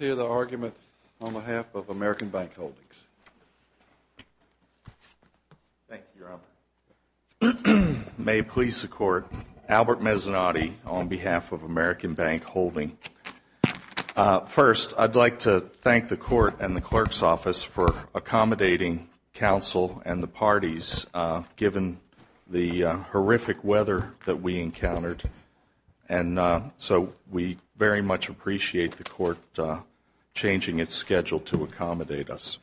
on behalf of American Bank Holdings. Thank you, Your Honor. May it please the Court, Albert Mezzanotte on behalf of American Bank Holdings. First, I'd like to thank the Court and the Clerk's Office for accommodating counsel and the parties, given the horrific weather that we encountered. And so we very much appreciate the Court changing its schedule to accommodate us.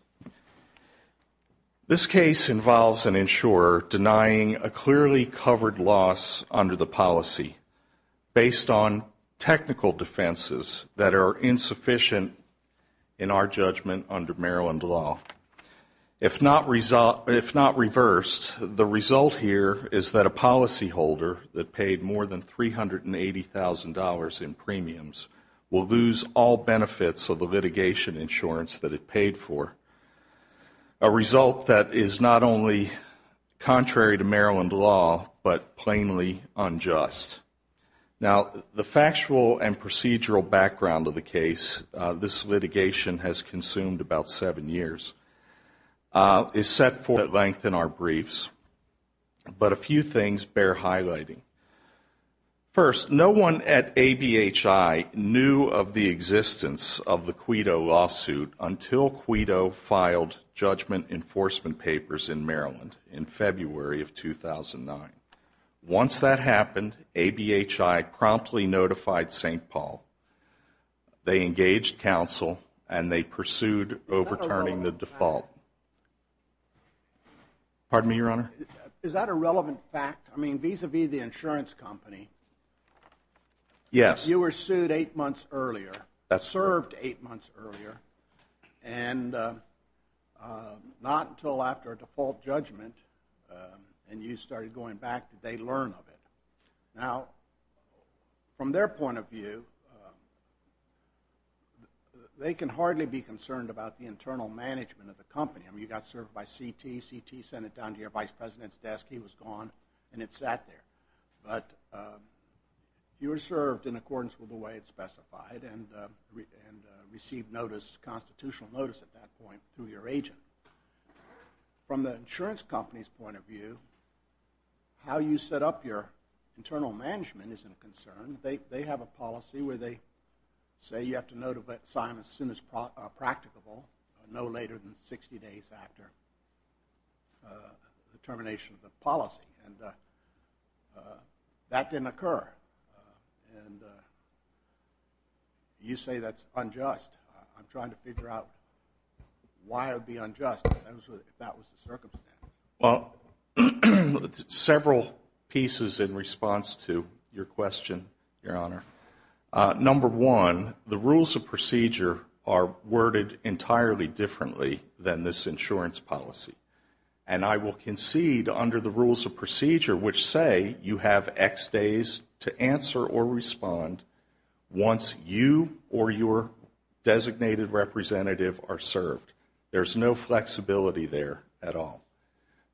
This case involves an insurer denying a clearly covered loss under the policy, based on technical defenses that are insufficient in our judgment under Maryland law. If not reversed, the result here is that a policyholder that paid more than $380,000 in premiums will lose all benefits of the litigation insurance that it paid for, a result that is not only contrary to Maryland law, but plainly unjust. Now, the factual and procedural background of the case, this litigation has consumed about seven years, is set forth at length in our briefs. But a few things bear highlighting. First, no one at ABHI knew of the existence of the Quido lawsuit until Quido filed judgment enforcement papers in Maryland in February of 2009. Once that happened, ABHI promptly notified St. Paul. They engaged counsel and they pursued overturning the default. Pardon me, Your Honor? Is that a relevant fact? I mean, vis-a-vis the insurance company, you were sued eight months earlier, served eight months earlier, and not until after a default judgment and you started going back did they learn of it. Now, from their point of view, they can hardly be concerned about the internal management of the company. I mean, you got served by CT, CT sent it down to your vice president's desk, he was gone, and it sat there. But you were served in accordance with the way it specified and received notice, constitutional notice at that point, through your agent. From the insurance company's point of view, how you set up your internal management isn't a concern. They have a policy where they say you have to notify them as soon as practicable, no later than 60 days after the termination of the policy. And that didn't occur. And you say that's unjust. I'm trying to figure out why it would be unjust if that was the circumstance. Well, several pieces in response to your question, Your Honor. Number one, the rules of procedure are worded entirely differently than this insurance policy. And I will concede, under the rules of procedure, which say you have X days to answer or respond once you or your designated representative are served. There's no flexibility there at all.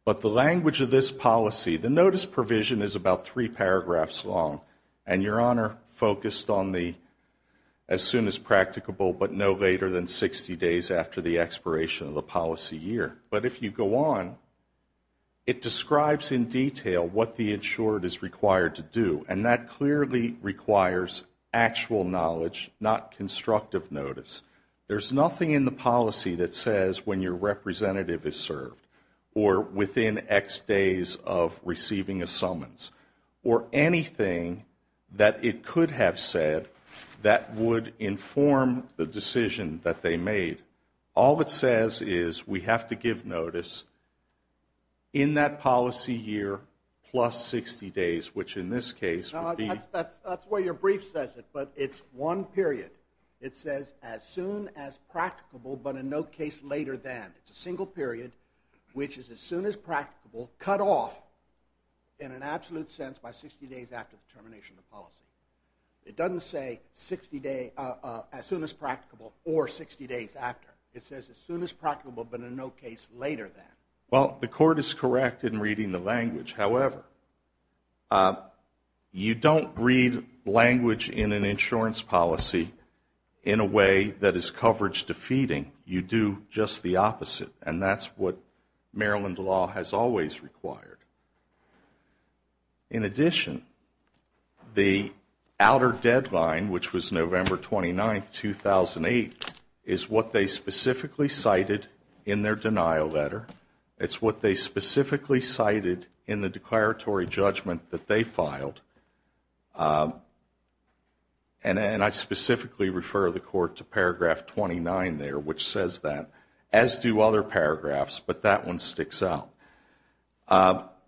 But the language of this policy, the notice provision is about three paragraphs long. And Your Honor focused on the as soon as practicable, but no later than 60 days after the expiration of the policy year. But if you go on, it describes in detail what the insured is required to do. And that clearly requires actual knowledge, not constructive notice. There's nothing in the policy that says when your representative is served or within X days of receiving a summons or anything that it could have said that would inform the decision that they made. All it says is we have to give notice in that policy year plus 60 days, which in this case would be... That's the way your brief says it, but it's one period. It says as soon as practicable, but in no case later than. It's a single period, which is as soon as practicable, cut off in an absolute sense by 60 days after the termination of the policy. It doesn't say as soon as practicable or 60 days after. It says as soon as practicable, but in no case later than. Well, the court is correct in reading the language. However, you don't read language in an insurance policy in a way that is coverage defeating. You do just the opposite. And that's what Maryland law has always required. In addition, the outer deadline, which was November 29, 2008, is what they specifically cited in their denial letter. It's what they specifically cited in the declaratory judgment that they filed. And I specifically refer the court to paragraph 29 there, which says that, as do other paragraphs, but that one sticks out.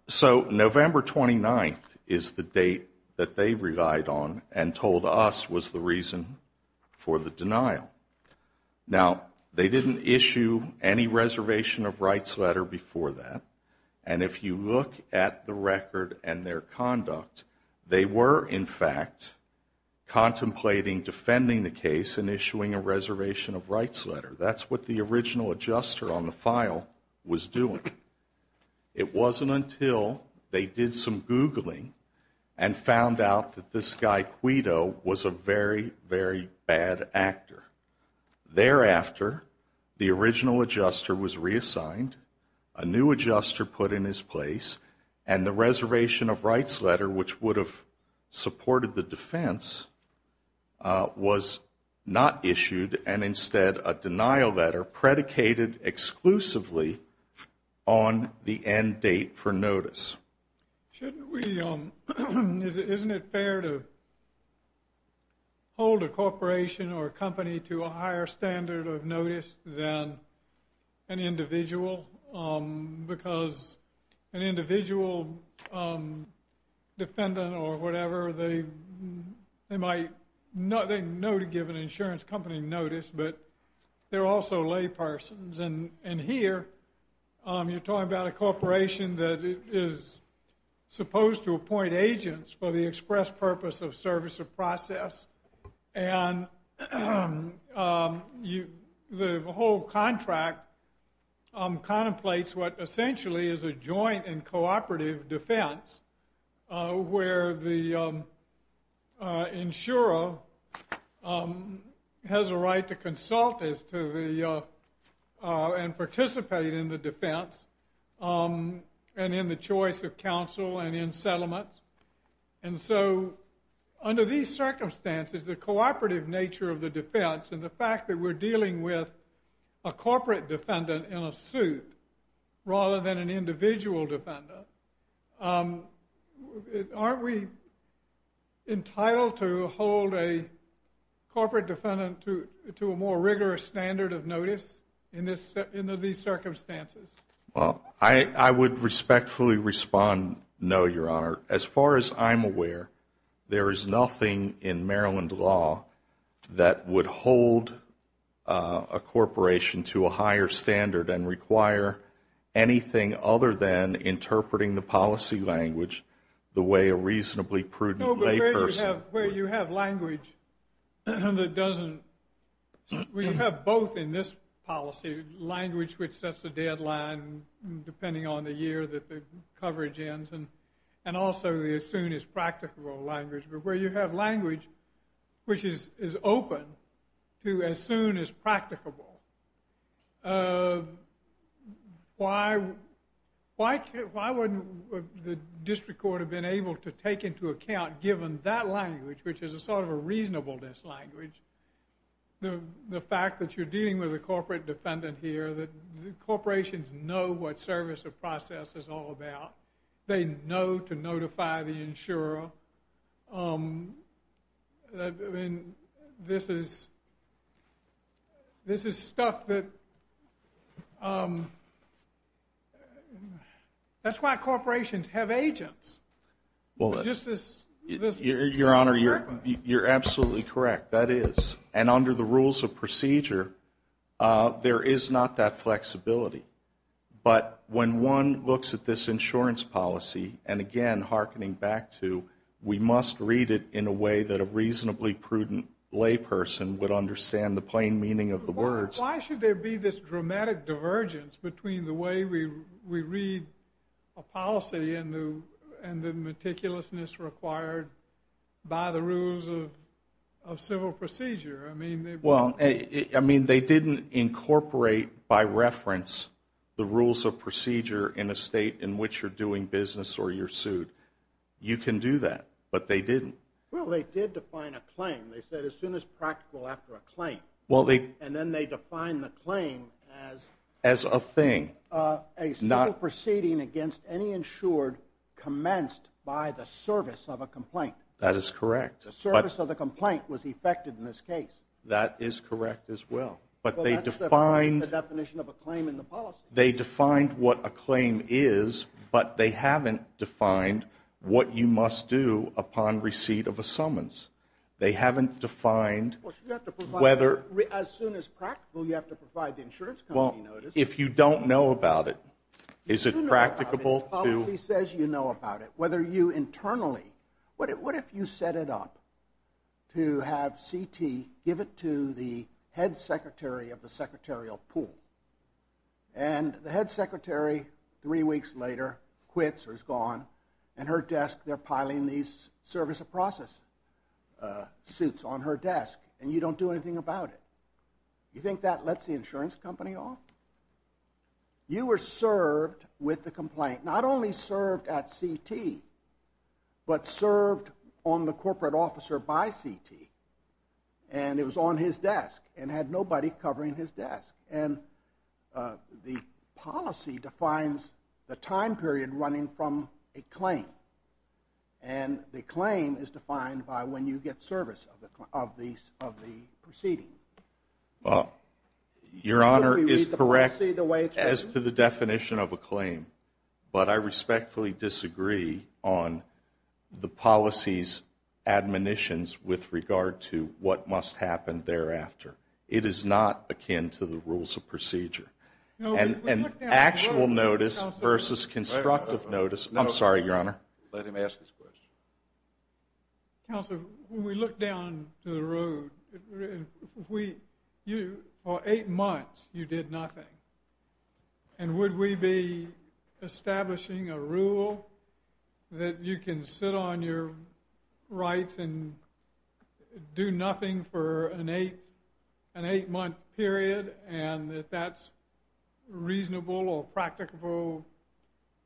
So November 29 is the date that they relied on and told us was the reason for the denial. Now, they didn't issue any reservation of rights letter before that. And if you look at the record and their conduct, they were, in fact, contemplating defending the case and issuing a reservation of rights letter. That's what the original adjuster on the file was doing. It wasn't until they did some Googling and found out that this guy, Quido, was a very, very bad actor. Thereafter, the original adjuster was reassigned, a new adjuster put in his place, and the reservation of rights letter, which would have supported the defense, was not issued and instead a denial letter predicated exclusively on the end date for notice. Isn't it fair to hold a corporation or a company to a higher standard of notice than an individual? Because an individual defendant or whatever, they know to give an insurance company notice, but they're also laypersons. And here you're talking about a corporation that is supposed to appoint agents for the express purpose of service or process. And the whole contract contemplates what essentially is a joint and cooperative defense where the insurer has a right to consult and participate in the defense and in the choice of counsel and in settlements. And so under these circumstances, the cooperative nature of the defense and the fact that we're dealing with a corporate defendant in a suit rather than an individual defendant, aren't we entitled to hold a corporate defendant to a more rigorous standard of notice in these circumstances? Well, I would respectfully respond, no, Your Honor. As far as I'm aware, there is nothing in Maryland law that would hold a corporation to a higher standard and require anything other than interpreting the policy language the way a reasonably prudent layperson would. No, but where you have language that doesn't, where you have both in this policy, language which sets a deadline depending on the year that the coverage ends and also the as soon as practicable language, but where you have language which is open to as soon as practicable, why wouldn't the district court have been able to take into account, given that language, which is a sort of a reasonableness language, the fact that you're dealing with a corporate defendant here, that corporations know what service or process is all about. They know to notify the insurer. This is stuff that, that's why corporations have agents. Your Honor, you're absolutely correct. That is, and under the rules of procedure, there is not that flexibility. But when one looks at this insurance policy, and again, hearkening back to we must read it in a way that a reasonably prudent layperson would understand the plain meaning of the words. Why should there be this dramatic divergence between the way we read a policy and the meticulousness required by the rules of civil procedure? Well, I mean, they didn't incorporate by reference the rules of procedure in a state in which you're doing business or you're sued. You can do that, but they didn't. Well, they did define a claim. They said as soon as practical after a claim. And then they define the claim as a thing. A single proceeding against any insured commenced by the service of a complaint. That is correct. The service of the complaint was effected in this case. That is correct as well. But they defined the definition of a claim in the policy. They defined what a claim is, but they haven't defined what you must do upon receipt of a summons. They haven't defined whether... As soon as practical, you have to provide the insurance company notice. If you don't know about it, is it practicable to... The policy says you know about it. What if you set it up to have CT give it to the head secretary of the secretarial pool? And the head secretary, three weeks later, quits or is gone. And her desk, they're piling these service of process suits on her desk and you don't do anything about it. You were served with the complaint. Not only served at CT, but served on the corporate officer by CT. And it was on his desk and had nobody covering his desk. The policy defines the time period running from a claim. And the claim is defined by when you get service of the proceeding. Your Honor is correct as to the definition of a claim, but I respectfully disagree on the policy's admonitions with regard to what must happen thereafter. It is not akin to the rules of procedure. And actual notice versus constructive notice... I'm sorry, Your Honor. Let him ask his question. Counselor, when we look down to the road, for eight months you did nothing. And would we be establishing a rule that you can sit on your rights and do nothing for an eight-month period and that that's reasonable or practicable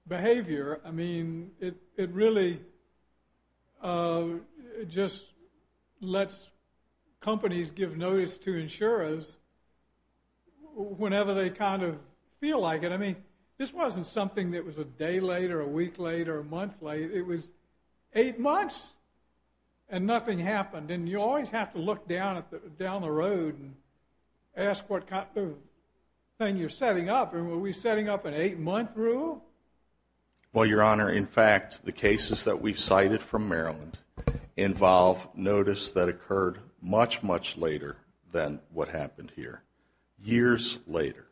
behavior? I mean, it really just lets companies give notice to insurers whenever they kind of feel like it. I mean, this wasn't something that was a day late or a week late or a month late. It was eight months and nothing happened. And you always have to look down the road and ask what kind of thing you're setting up. Were we setting up an eight-month rule? Well, Your Honor, in fact, the cases that we've cited from Maryland involve notice that occurred much, much later than what happened here, years later.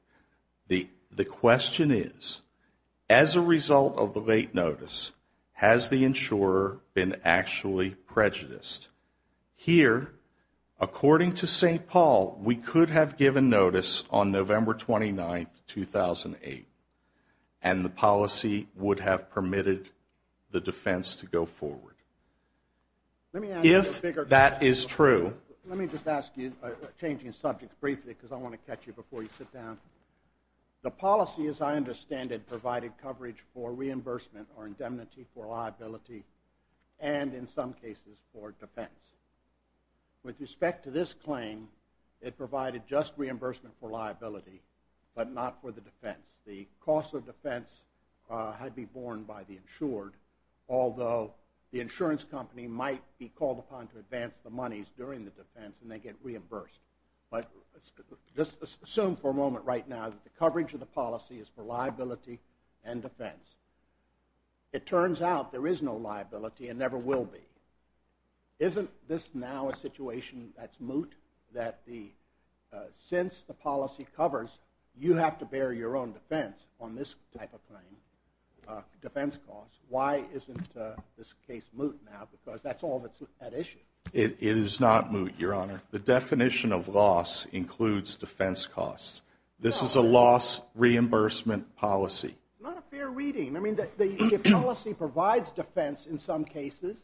The question is, as a result of the late notice, has the insurer been actually prejudiced? Here, according to St. Paul, we could have given notice on November 29, 2008, and the policy would have permitted the defense to go forward. If that is true. Let me just ask you, changing subjects briefly, because I want to catch you before you sit down. The policy, as I understand it, provided coverage for reimbursement or indemnity for liability and, in some cases, for defense. With respect to this claim, it provided just reimbursement for liability, but not for the defense. The cost of defense had to be borne by the insured, although the insurance company might be called upon to advance the monies during the defense, and they get reimbursed. But just assume for a moment right now that the coverage of the policy is for liability and defense. It turns out there is no liability and never will be. Isn't this now a situation that's moot, that since the policy covers, you have to bear your own defense on this type of claim, defense costs? Why isn't this case moot now? Because that's all that's at issue. It is not moot, Your Honor. The definition of loss includes defense costs. This is a loss reimbursement policy. Not a fair reading. I mean, the policy provides defense in some cases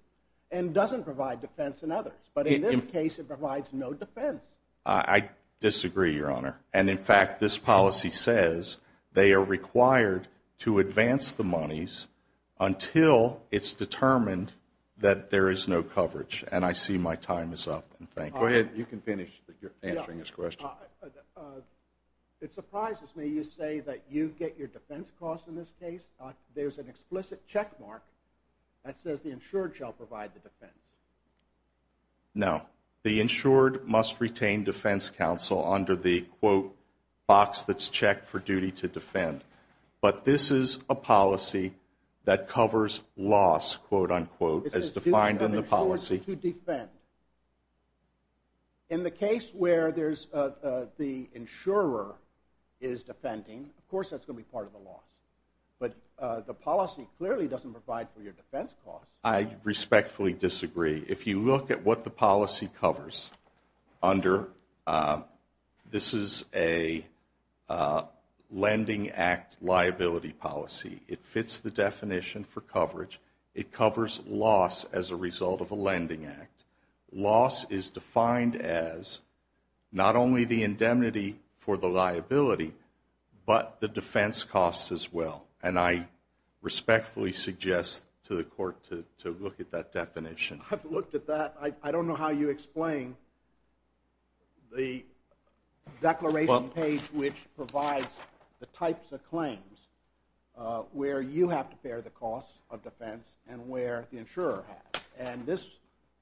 and doesn't provide defense in others. But in this case, it provides no defense. I disagree, Your Honor. And, in fact, this policy says they are required to advance the monies until it's determined that there is no coverage. And I see my time is up, and thank you. Go ahead. You can finish, but you're answering this question. It surprises me you say that you get your defense costs in this case. There's an explicit checkmark that says the insured shall provide the defense. No. The insured must retain defense counsel under the, quote, box that's checked for duty to defend. But this is a policy that covers loss, quote, unquote, as defined in the policy. To defend. In the case where the insurer is defending, of course that's going to be part of the loss. But the policy clearly doesn't provide for your defense costs. I respectfully disagree. If you look at what the policy covers under, this is a Lending Act liability policy. It fits the definition for coverage. It covers loss as a result of a Lending Act. Loss is defined as not only the indemnity for the liability, but the defense costs as well. And I respectfully suggest to the court to look at that definition. I've looked at that. I don't know how you explain the declaration page which provides the types of claims where you have to bear the costs of defense and where the insurer has. And this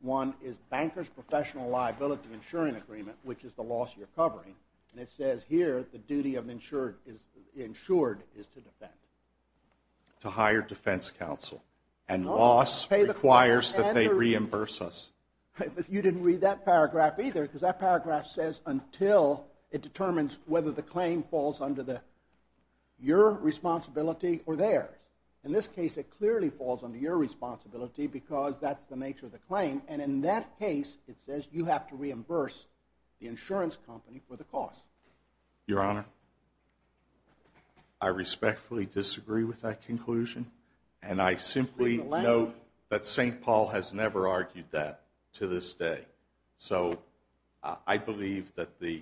one is Banker's Professional Liability Insuring Agreement, which is the loss you're covering. And it says here the duty of the insured is to defend. To hire defense counsel. And loss requires that they reimburse us. You didn't read that paragraph either because that paragraph says until it determines whether the claim falls under your responsibility or theirs. In this case, it clearly falls under your responsibility because that's the nature of the claim. And in that case, it says you have to reimburse the insurance company for the cost. Your Honor, I respectfully disagree with that conclusion. And I simply note that St. Paul has never argued that to this day. So I believe that the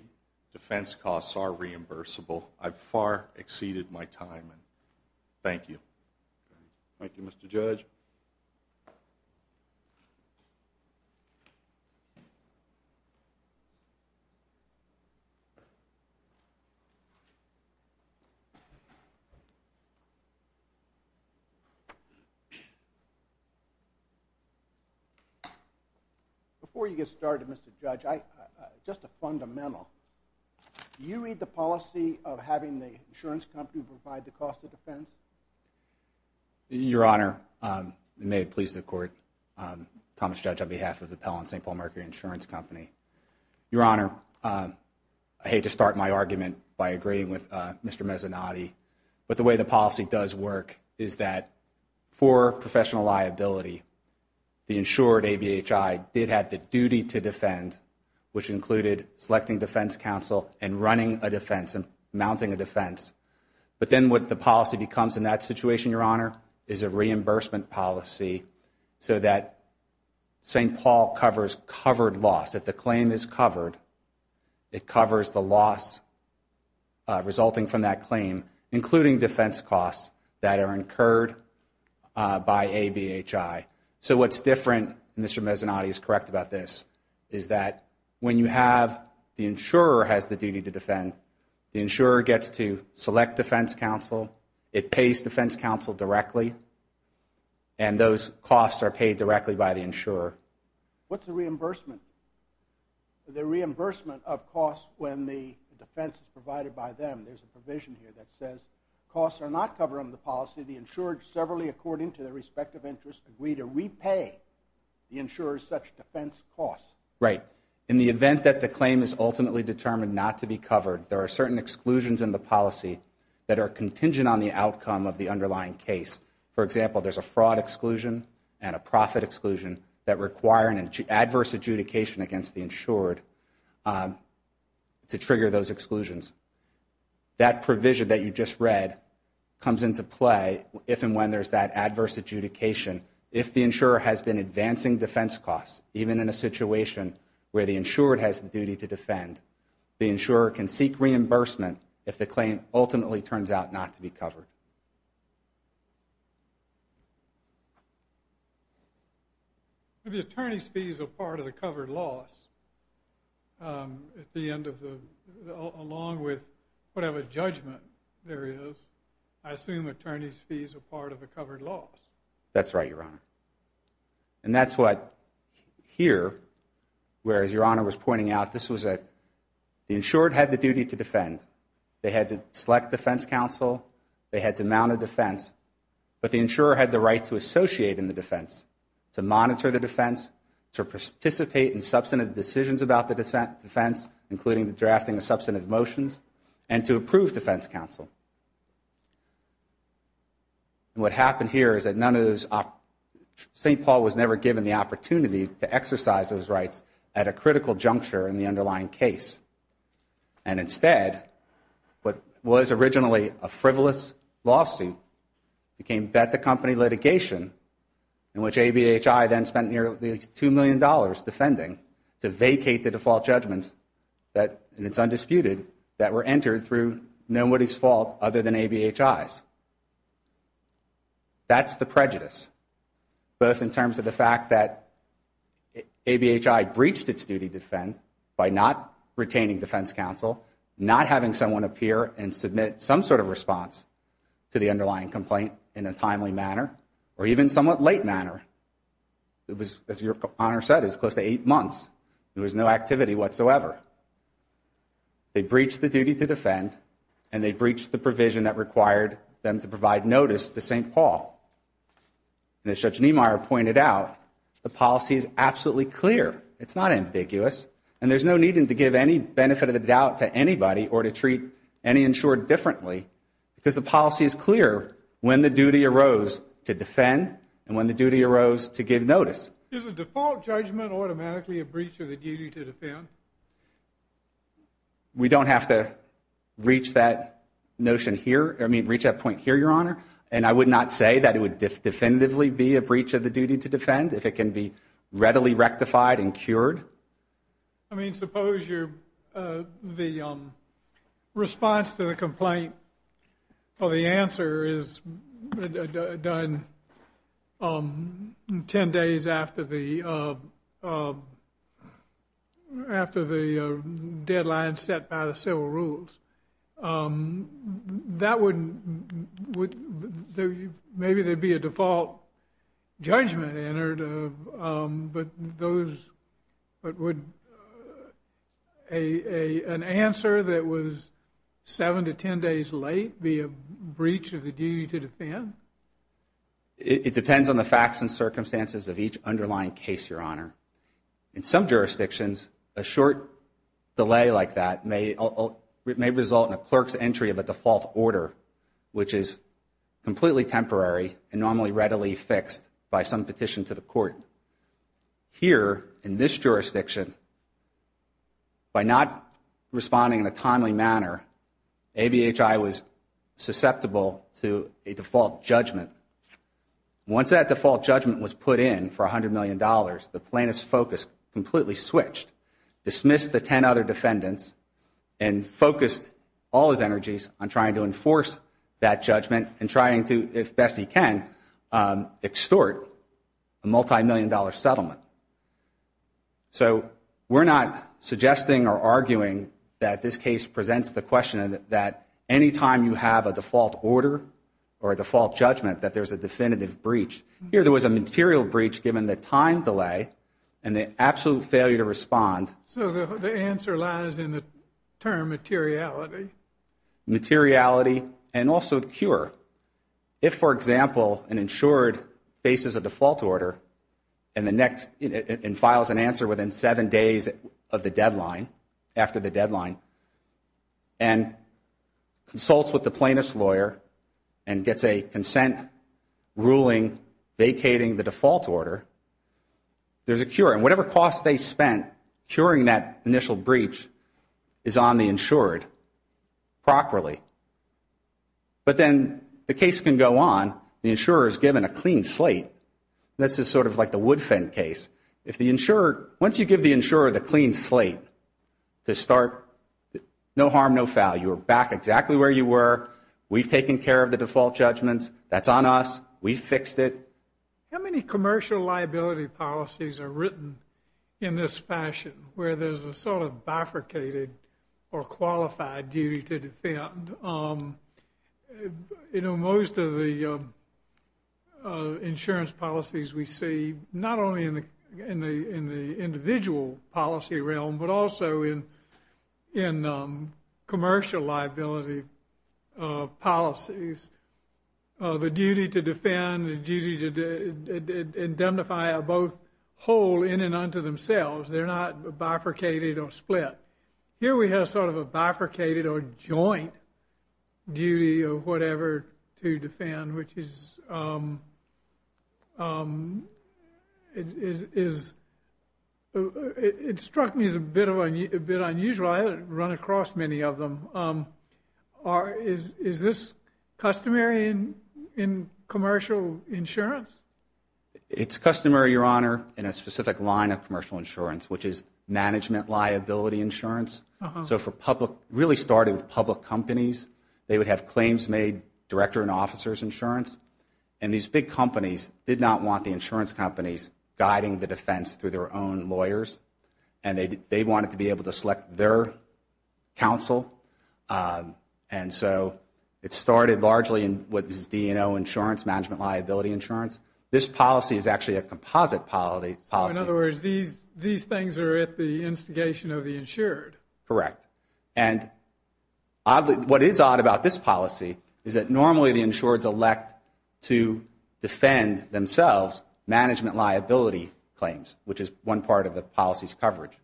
defense costs are reimbursable. I've far exceeded my time. Thank you. Thank you, Mr. Judge. Before you get started, Mr. Judge, just a fundamental. Do you read the policy of having the insurance company provide the cost of defense? Your Honor, may it please the Court. Thomas Judge on behalf of the Pell and St. Paul Mercury Insurance Company. Your Honor, I hate to start my argument by agreeing with Mr. Mezzanotte, but the way the policy does work is that for professional liability, the insured ABHI did have the duty to defend, which included selecting defense counsel and running a defense and mounting a defense. But then what the policy becomes in that situation, Your Honor, is a reimbursement policy so that St. Paul covers covered loss. If the claim is covered, it covers the loss resulting from that claim, including defense costs that are incurred by ABHI. So what's different, and Mr. Mezzanotte is correct about this, is that when you have the insurer has the duty to defend, the insurer gets to select defense counsel, it pays defense counsel directly, and those costs are paid directly by the insurer. What's the reimbursement? The reimbursement of costs when the defense is provided by them. There's a provision here that says costs are not covered under the policy. The insured, severally according to their respective interests, agree to repay the insurer's such defense costs. Right. In the event that the claim is ultimately determined not to be covered, there are certain exclusions in the policy that are contingent on the outcome of the underlying case. For example, there's a fraud exclusion and a profit exclusion that require an adverse adjudication against the insured to trigger those exclusions. That provision that you just read comes into play if and when there's that adverse adjudication. If the insurer has been advancing defense costs, even in a situation where the insured has the duty to defend, the insurer can seek reimbursement if the claim ultimately turns out not to be covered. All right. If the attorney's fees are part of the covered loss, at the end of the, along with whatever judgment there is, I assume attorney's fees are part of the covered loss. That's right, Your Honor. And that's what here, whereas Your Honor was pointing out, this was that the insured had the duty to defend. They had to select defense counsel, they had to mount a defense, but the insurer had the right to associate in the defense, to monitor the defense, to participate in substantive decisions about the defense, including the drafting of substantive motions, and to approve defense counsel. And what happened here is that none of those, St. Paul was never given the opportunity to exercise those rights at a critical juncture in the underlying case. And instead, what was originally a frivolous lawsuit became Bethel Company litigation, in which ABHI then spent nearly $2 million defending to vacate the default judgments that, and it's undisputed, that were entered through nobody's fault other than ABHI's. That's the prejudice, both in terms of the fact that ABHI breached its duty to defend by not retaining defense counsel, not having someone appear and submit some sort of response to the underlying complaint in a timely manner, or even somewhat late manner. As Your Honor said, it was close to eight months. There was no activity whatsoever. They breached the duty to defend, and they breached the provision that required them to provide notice to St. Paul. And as Judge Niemeyer pointed out, the policy is absolutely clear. It's not ambiguous. And there's no need to give any benefit of the doubt to anybody or to treat any insured differently, because the policy is clear when the duty arose to defend and when the duty arose to give notice. Is a default judgment automatically a breach of the duty to defend? We don't have to reach that notion here, I mean, reach that point here, Your Honor. And I would not say that it would definitively be a breach of the duty to defend if it can be readily rectified and cured. I mean, suppose the response to the complaint or the answer is done 10 days after the deadline set by the civil rules. That would, maybe there would be a default judgment entered, but would an answer that was 7 to 10 days late be a breach of the duty to defend? It depends on the facts and circumstances of each underlying case, Your Honor. In some jurisdictions, a short delay like that may result in a clerk's entry of a default order, which is completely temporary and normally readily fixed by some petition to the court. Here, in this jurisdiction, by not responding in a timely manner, ABHI was susceptible to a default judgment. Once that default judgment was put in for $100 million, the plaintiff's focus completely switched, dismissed the 10 other defendants, and focused all his energies on trying to enforce that judgment and trying to, if best he can, extort a multimillion-dollar settlement. So we're not suggesting or arguing that this case presents the question that any time you have a default order or a default judgment that there's a definitive breach. Here there was a material breach given the time delay and the absolute failure to respond. So the answer lies in the term materiality. Materiality and also cure. If, for example, an insured faces a default order and files an answer within 7 days of the deadline, and consults with the plaintiff's lawyer and gets a consent ruling vacating the default order, there's a cure. And whatever cost they spent curing that initial breach is on the insured properly. But then the case can go on. The insurer is given a clean slate. And this is sort of like the wood fin case. Once you give the insurer the clean slate to start, no harm, no foul. You're back exactly where you were. We've taken care of the default judgments. That's on us. We fixed it. How many commercial liability policies are written in this fashion, where there's a sort of bifurcated or qualified duty to defend? You know, most of the insurance policies we see, not only in the individual policy realm, but also in commercial liability policies, the duty to defend, the duty to indemnify are both whole in and unto themselves. They're not bifurcated or split. Here we have sort of a bifurcated or joint duty or whatever to defend, which is ‑‑ it struck me as a bit unusual. I haven't run across many of them. Is this customary in commercial insurance? It's customary, Your Honor, in a specific line of commercial insurance, which is management liability insurance. So for public ‑‑ really started with public companies. They would have claims made, director and officers insurance. And these big companies did not want the insurance companies guiding the defense through their own lawyers, and they wanted to be able to select their counsel. And so it started largely in what is D&O insurance, management liability insurance. This policy is actually a composite policy. In other words, these things are at the instigation of the insured. Correct. And what is odd about this policy is that normally the insureds elect to defend themselves management liability claims, which is one part of the policy's coverage.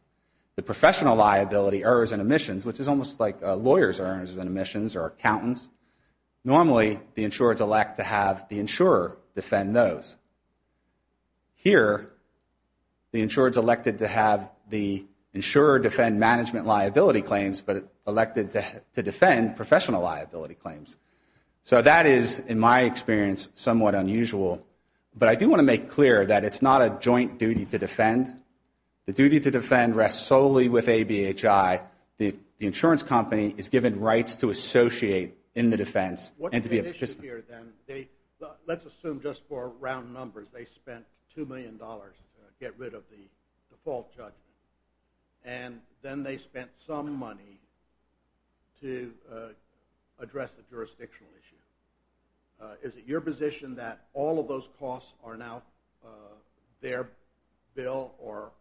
The professional liability, errors and omissions, which is almost like lawyers' errors and omissions or accountants, normally the insureds elect to have the insurer defend those. Here, the insureds elected to have the insurer defend management liability claims but elected to defend professional liability claims. So that is, in my experience, somewhat unusual. But I do want to make clear that it's not a joint duty to defend. The duty to defend rests solely with ABHI. The insurance company is given rights to associate in the defense. Let's assume just for round numbers, they spent $2 million to get rid of the default judgment, and then they spent some money to address the jurisdictional issue. Is it your position that all of those costs are now their bill, or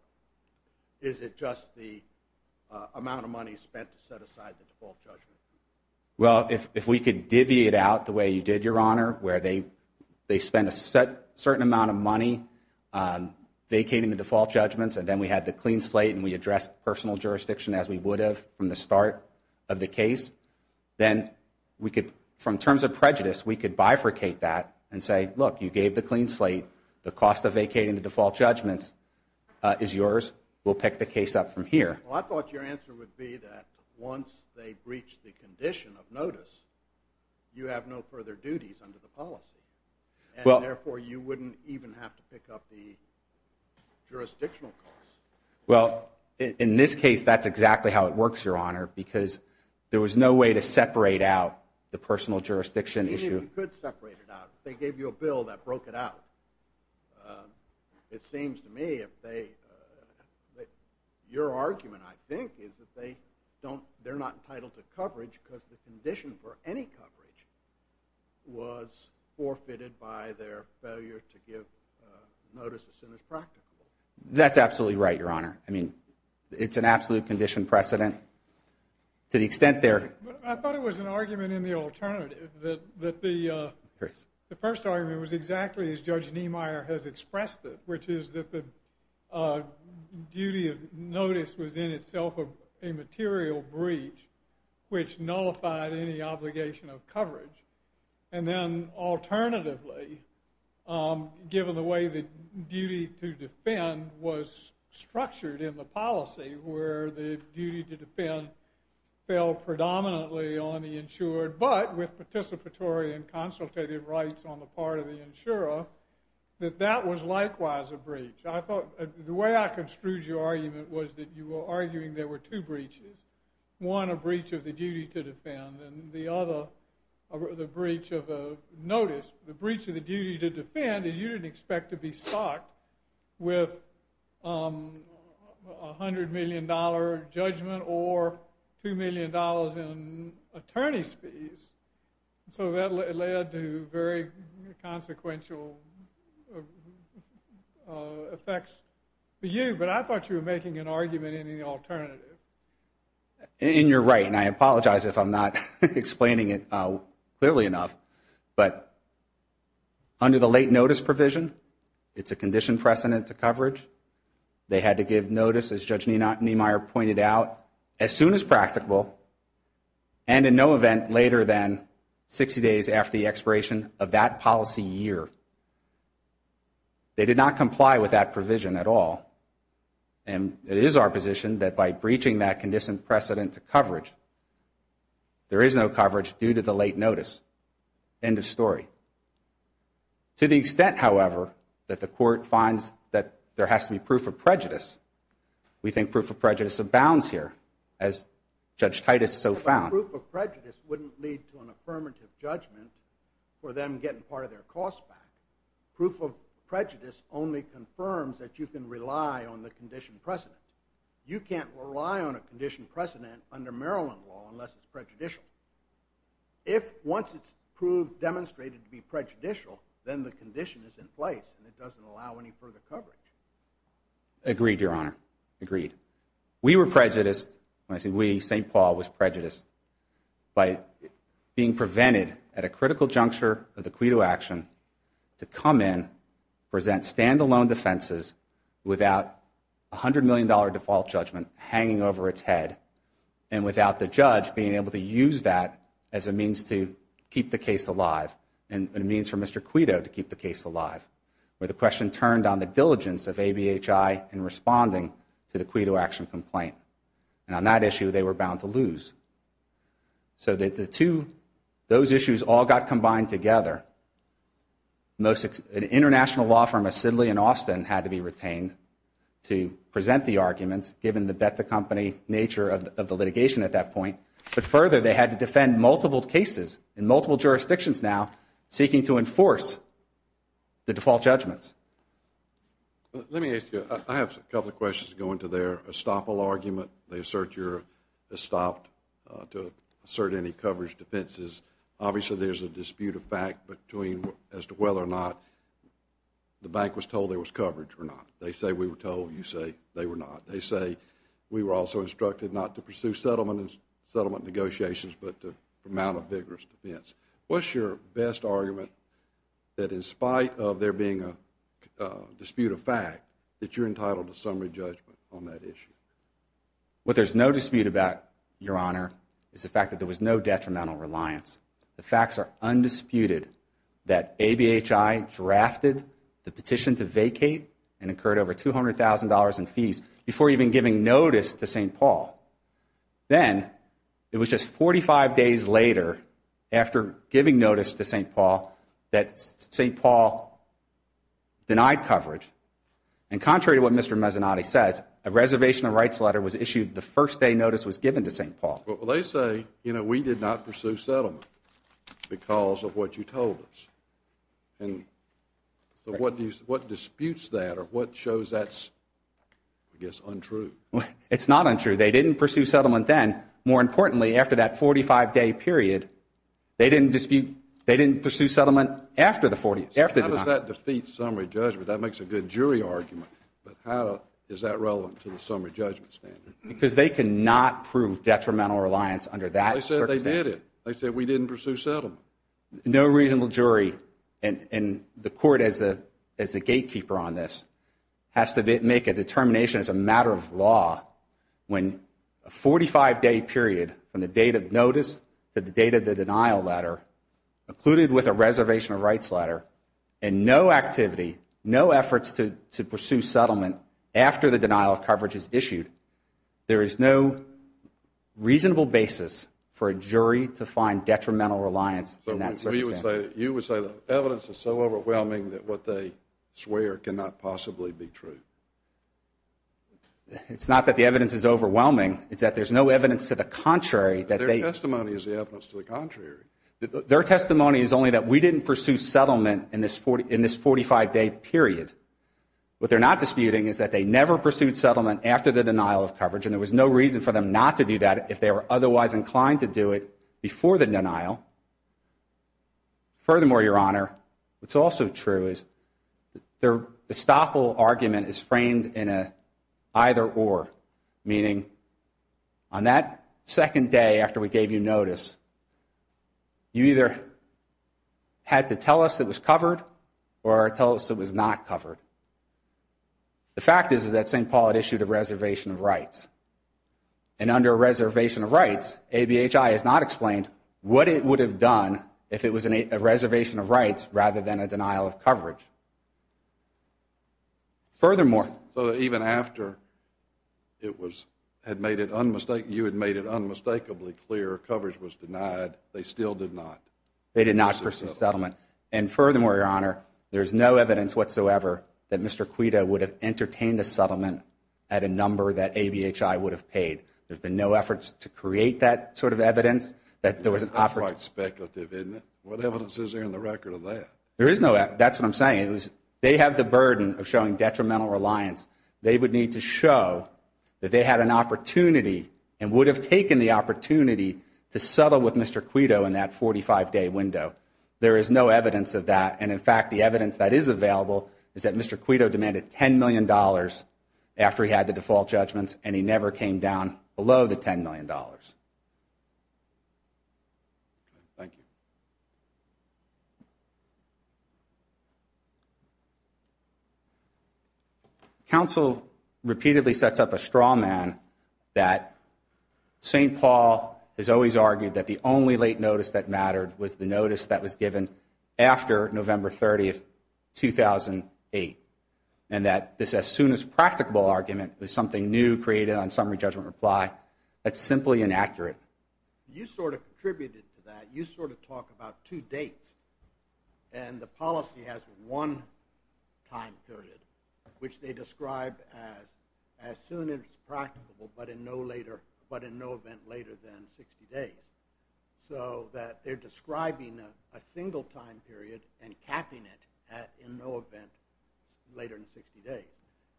is it just the amount of money spent to set aside the default judgment? Well, if we could deviate out the way you did, Your Honor, where they spent a certain amount of money vacating the default judgments, and then we had the clean slate and we addressed personal jurisdiction as we would have from the start of the case, then we could, from terms of prejudice, we could bifurcate that and say, look, you gave the clean slate. The cost of vacating the default judgments is yours. We'll pick the case up from here. Well, I thought your answer would be that once they breach the condition of notice, you have no further duties under the policy, and therefore you wouldn't even have to pick up the jurisdictional costs. Well, in this case, that's exactly how it works, Your Honor, because there was no way to separate out the personal jurisdiction issue. You could separate it out. If they gave you a bill that broke it out, it seems to me that your argument, I think, is that they're not entitled to coverage because the condition for any coverage was forfeited by their failure to give notice as soon as practical. That's absolutely right, Your Honor. I mean, it's an absolute condition precedent. To the extent there... I thought it was an argument in the alternative, that the first argument was exactly as Judge Niemeyer has expressed it, which is that the duty of notice was in itself a material breach which nullified any obligation of coverage. And then alternatively, given the way the duty to defend was structured in the policy where the duty to defend fell predominantly on the insured but with participatory and consultative rights on the part of the insurer, that that was likewise a breach. The way I construed your argument was that you were arguing there were two breaches. One, a breach of the duty to defend, and the other, the breach of notice. The breach of the duty to defend is you didn't expect to be socked with a $100 million judgment or $2 million in attorney's fees. So that led to very consequential effects for you. But I thought you were making an argument in the alternative. And you're right, and I apologize if I'm not explaining it clearly enough. But under the late notice provision, it's a conditioned precedent to coverage. They had to give notice, as Judge Niemeyer pointed out, as soon as practicable and in no event later than 60 days after the expiration of that policy year. They did not comply with that provision at all. And it is our position that by breaching that conditioned precedent to coverage, there is no coverage due to the late notice. End of story. To the extent, however, that the court finds that there has to be proof of prejudice, we think proof of prejudice abounds here, as Judge Titus so found. But proof of prejudice wouldn't lead to an affirmative judgment for them getting part of their costs back. Proof of prejudice only confirms that you can rely on the conditioned precedent. You can't rely on a conditioned precedent under Maryland law unless it's prejudicial. If once it's proved, demonstrated to be prejudicial, then the condition is in place and it doesn't allow any further coverage. Agreed, Your Honor. Agreed. We were prejudiced, when I say we, St. Paul was prejudiced by being prevented at a critical juncture of the credo action to come in, present stand-alone defenses, without a $100 million default judgment hanging over its head, and without the judge being able to use that as a means to keep the case alive, and a means for Mr. Credo to keep the case alive, where the question turned on the diligence of ABHI in responding to the credo action complaint. And on that issue, they were bound to lose. So those issues all got combined together. An international law firm of Sidley and Austin had to be retained to present the arguments, given the bet-the-company nature of the litigation at that point. But further, they had to defend multiple cases in multiple jurisdictions now, seeking to enforce the default judgments. Let me ask you, I have a couple of questions going to their estoppel argument. They assert you're estopped to assert any coverage defenses. Obviously, there's a dispute of fact as to whether or not the bank was told there was coverage or not. They say we were told. You say they were not. They say we were also instructed not to pursue settlement negotiations, but to promote a vigorous defense. What's your best argument that, in spite of there being a dispute of fact, that you're entitled to summary judgment on that issue? What there's no dispute about, Your Honor, is the fact that there was no detrimental reliance. The facts are undisputed that ABHI drafted the petition to vacate and incurred over $200,000 in fees before even giving notice to St. Paul. Then, it was just 45 days later, after giving notice to St. Paul, that St. Paul denied coverage. And contrary to what Mr. Mezzanotte says, a reservation of rights letter was issued the first day notice was given to St. Paul. Well, they say, you know, we did not pursue settlement because of what you told us. And so what disputes that or what shows that's, I guess, untrue? It's not untrue. They didn't pursue settlement then. More importantly, after that 45-day period, they didn't pursue settlement after the 49th. How does that defeat summary judgment? That makes a good jury argument. But how is that relevant to the summary judgment standard? Because they cannot prove detrimental reliance under that circumstance. They said they did it. They said we didn't pursue settlement. No reasonable jury in the court as the gatekeeper on this has to make a determination as a matter of law when a 45-day period from the date of notice to the date of the denial letter, included with a reservation of rights letter, and no activity, no efforts to pursue settlement after the denial of coverage is issued, there is no reasonable basis for a jury to find detrimental reliance in that circumstance. You would say the evidence is so overwhelming that what they swear cannot possibly be true. It's not that the evidence is overwhelming. It's that there's no evidence to the contrary. Their testimony is the evidence to the contrary. Their testimony is only that we didn't pursue settlement in this 45-day period. What they're not disputing is that they never pursued settlement after the denial of coverage, and there was no reason for them not to do that if they were otherwise inclined to do it before the denial. Furthermore, Your Honor, what's also true is their estoppel argument is framed in an either-or, meaning on that second day after we gave you notice, you either had to tell us it was covered or tell us it was not covered. The fact is that St. Paul had issued a reservation of rights, and under a reservation of rights, ABHI has not explained what it would have done if it was a reservation of rights rather than a denial of coverage. Furthermore... So even after you had made it unmistakably clear coverage was denied, they still did not... They did not pursue settlement. And furthermore, Your Honor, there is no evidence whatsoever that Mr. Quito would have entertained a settlement at a number that ABHI would have paid. There have been no efforts to create that sort of evidence. That's quite speculative, isn't it? What evidence is there in the record of that? There is no evidence. That's what I'm saying. They have the burden of showing detrimental reliance. They would need to show that they had an opportunity and would have taken the opportunity to settle with Mr. Quito in that 45-day window. There is no evidence of that, and in fact, the evidence that is available is that Mr. Quito demanded $10 million after he had the default judgments, and he never came down below the $10 million. Thank you. Counsel repeatedly sets up a straw man that St. Paul has always argued that the only late notice that mattered was the notice that was given after November 30, 2008, and that this as soon as practicable argument was something new created on summary judgment reply. That's simply inaccurate. You sort of contributed to that. You sort of talk about two dates, and the policy has one time period, which they describe as as soon as practicable but in no event later than 60 days, so that they're describing a single time period and capping it at in no event later than 60 days.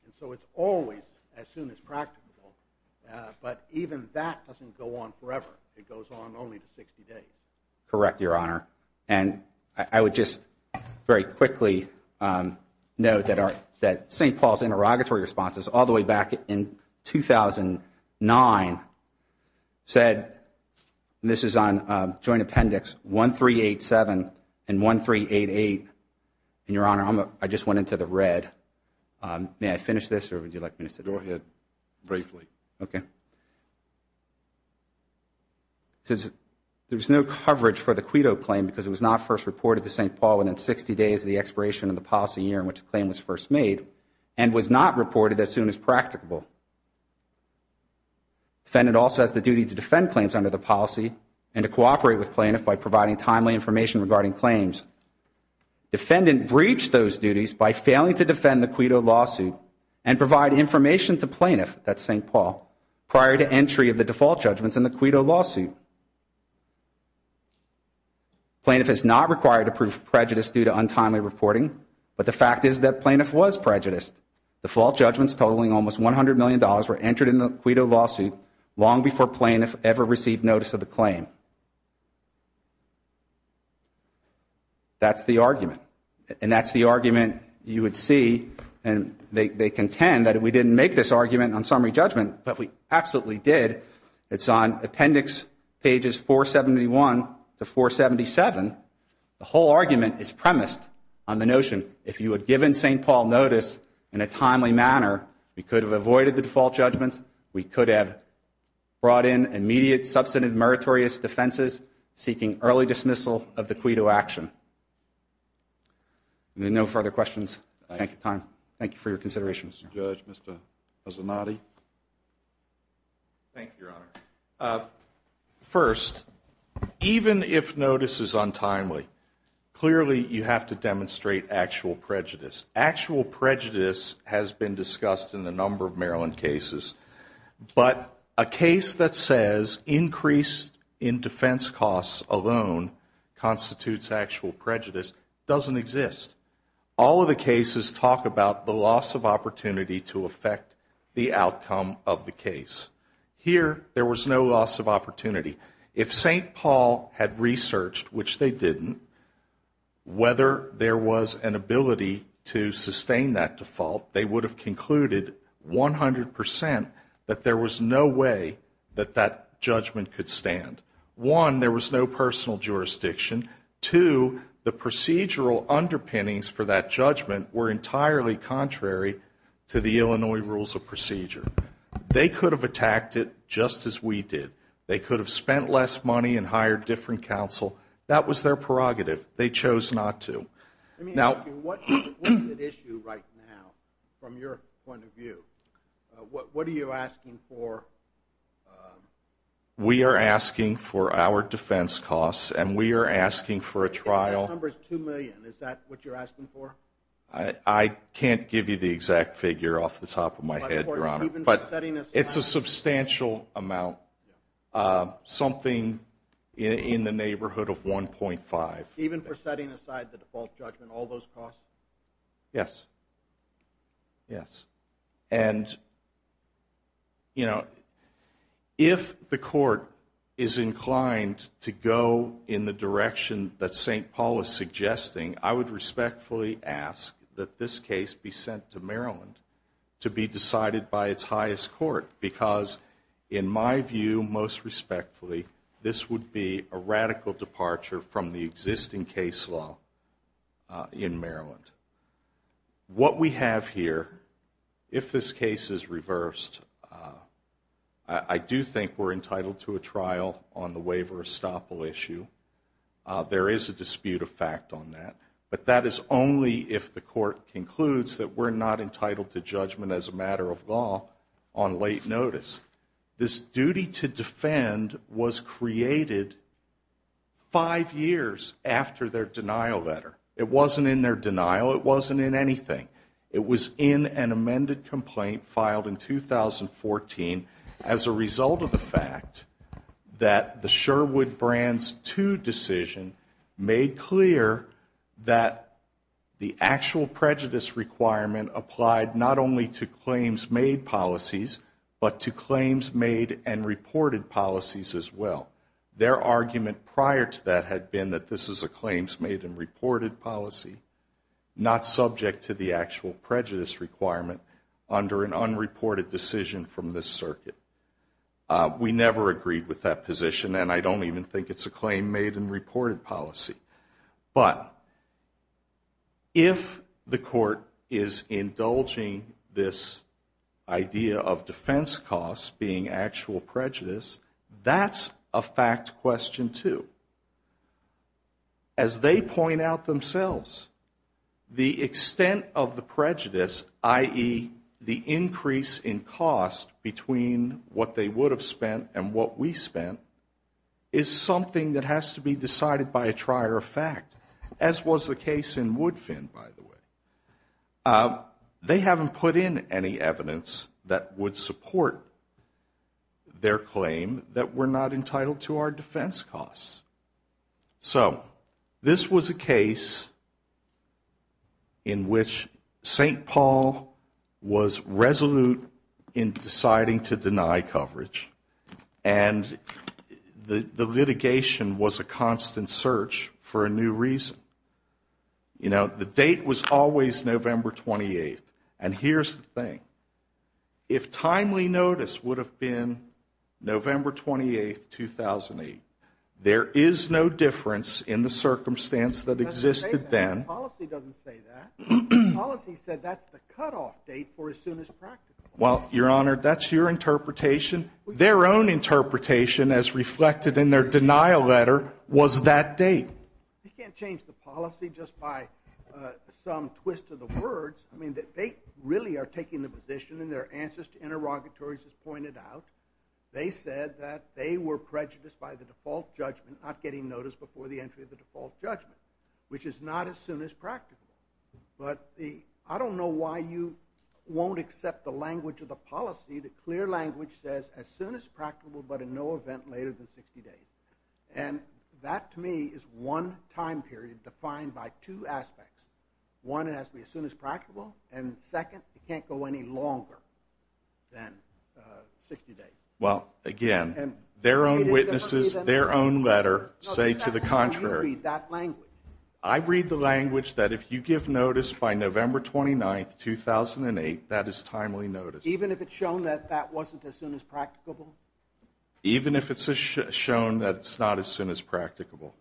And so it's always as soon as practicable, but even that doesn't go on forever. It goes on only to 60 days. Correct, Your Honor. And I would just very quickly note that St. Paul's interrogatory responses all the way back in 2009 said, and this is on Joint Appendix 1387 and 1388, and, Your Honor, I just went into the red. May I finish this, or would you like me to sit down? Go ahead, briefly. Okay. There was no coverage for the CUIDO claim because it was not first reported to St. Paul within 60 days of the expiration of the policy year in which the claim was first made and was not reported as soon as practicable. Defendant also has the duty to defend claims under the policy and to cooperate with plaintiff by providing timely information regarding claims. Defendant breached those duties by failing to defend the CUIDO lawsuit and provide information to plaintiff, that's St. Paul, prior to entry of the default judgments in the CUIDO lawsuit. Plaintiff is not required to prove prejudice due to untimely reporting, but the fact is that plaintiff was prejudiced. Default judgments totaling almost $100 million were entered in the CUIDO lawsuit long before plaintiff ever received notice of the claim. That's the argument, and that's the argument you would see, and they contend that we didn't make this argument on summary judgment, but we absolutely did. It's on appendix pages 471 to 477. The whole argument is premised on the notion, if you had given St. Paul notice in a timely manner, we could have avoided the default judgments, we could have brought in immediate substantive meritorious defenses seeking early dismissal of the CUIDO action. No further questions. Thank you for your consideration. Mr. Judge, Mr. Azamati. Thank you, Your Honor. First, even if notice is untimely, clearly you have to demonstrate actual prejudice. Actual prejudice has been discussed in a number of Maryland cases, but a case that says increase in defense costs alone constitutes actual prejudice doesn't exist. All of the cases talk about the loss of opportunity to affect the outcome of the case. Here, there was no loss of opportunity. If St. Paul had researched, which they didn't, whether there was an ability to sustain that default, they would have concluded 100% that there was no way that that judgment could stand. One, there was no personal jurisdiction. Two, the procedural underpinnings for that judgment were entirely contrary to the Illinois Rules of Procedure. They could have attacked it just as we did. They could have spent less money and hired different counsel. That was their prerogative. They chose not to. Let me ask you, what is at issue right now from your point of view? What are you asking for? We are asking for our defense costs, and we are asking for a trial. The number is $2 million. Is that what you're asking for? I can't give you the exact figure off the top of my head, Your Honor, but it's a substantial amount, something in the neighborhood of $1.5 million. Even for setting aside the default judgment, all those costs? Yes. Yes. And, you know, if the court is inclined to go in the direction that St. Paul is suggesting, I would respectfully ask that this case be sent to Maryland to be decided by its highest court, because in my view, most respectfully, this would be a radical departure from the existing case law in Maryland. What we have here, if this case is reversed, I do think we're entitled to a trial on the waiver of estoppel issue. There is a dispute of fact on that, but that is only if the court concludes that we're not entitled to judgment as a matter of law on late notice. This duty to defend was created five years after their denial letter. It wasn't in their denial. It wasn't in anything. It was in an amended complaint filed in 2014 as a result of the fact that the Sherwood Brands II decision made clear that the actual prejudice requirement applied not only to claims made policies, but to claims made and reported policies as well. Their argument prior to that had been that this is a claims made and reported policy, not subject to the actual prejudice requirement under an unreported decision from this circuit. We never agreed with that position, and I don't even think it's a claim made and reported policy. But if the court is indulging this idea of defense costs being actual prejudice, that's a fact question too. As they point out themselves, the extent of the prejudice, i.e., the increase in cost between what they would have spent and what we spent, is something that has to be decided by a trier of fact, as was the case in Woodfin, by the way. They haven't put in any evidence that would support their claim that we're not entitled to our defense costs. So this was a case in which St. Paul was resolute in deciding to deny coverage, and the litigation was a constant search for a new reason. The date was always November 28th, and here's the thing. If timely notice would have been November 28th, 2008, there is no difference in the circumstance that existed then. The policy doesn't say that. The policy said that's the cutoff date for as soon as practical. Well, Your Honor, that's your interpretation. Their own interpretation, as reflected in their denial letter, was that date. You can't change the policy just by some twist of the words. I mean, they really are taking the position in their answers to interrogatories, as pointed out. They said that they were prejudiced by the default judgment, not getting notice before the entry of the default judgment, which is not as soon as practicable. But I don't know why you won't accept the language of the policy, the clear language says as soon as practicable, but in no event later than 60 days. And that, to me, is one time period defined by two aspects. One, it has to be as soon as practicable, and second, it can't go any longer than 60 days. Well, again, their own witnesses, their own letter say to the contrary. I read the language that if you give notice by November 29th, 2008, that is timely notice. Even if it's shown that that wasn't as soon as practicable? Even if it's shown that it's not as soon as practicable.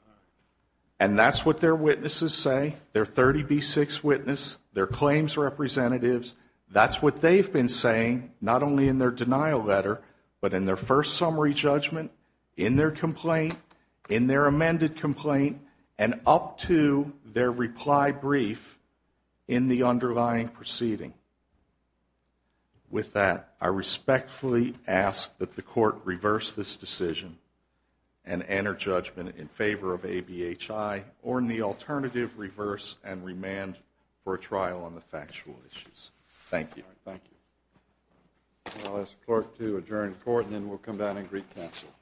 And that's what their witnesses say, their 30B6 witness, their claims representatives, that's what they've been saying, not only in their denial letter, but in their first summary judgment, in their complaint, in their amended complaint, and up to their reply brief in the underlying proceeding. With that, I respectfully ask that the court reverse this decision and enter judgment in favor of ABHI, or in the alternative, reverse and remand for a trial on the factual issues. Thank you. Thank you. I'll ask the clerk to adjourn the court, and then we'll come down and recouncil.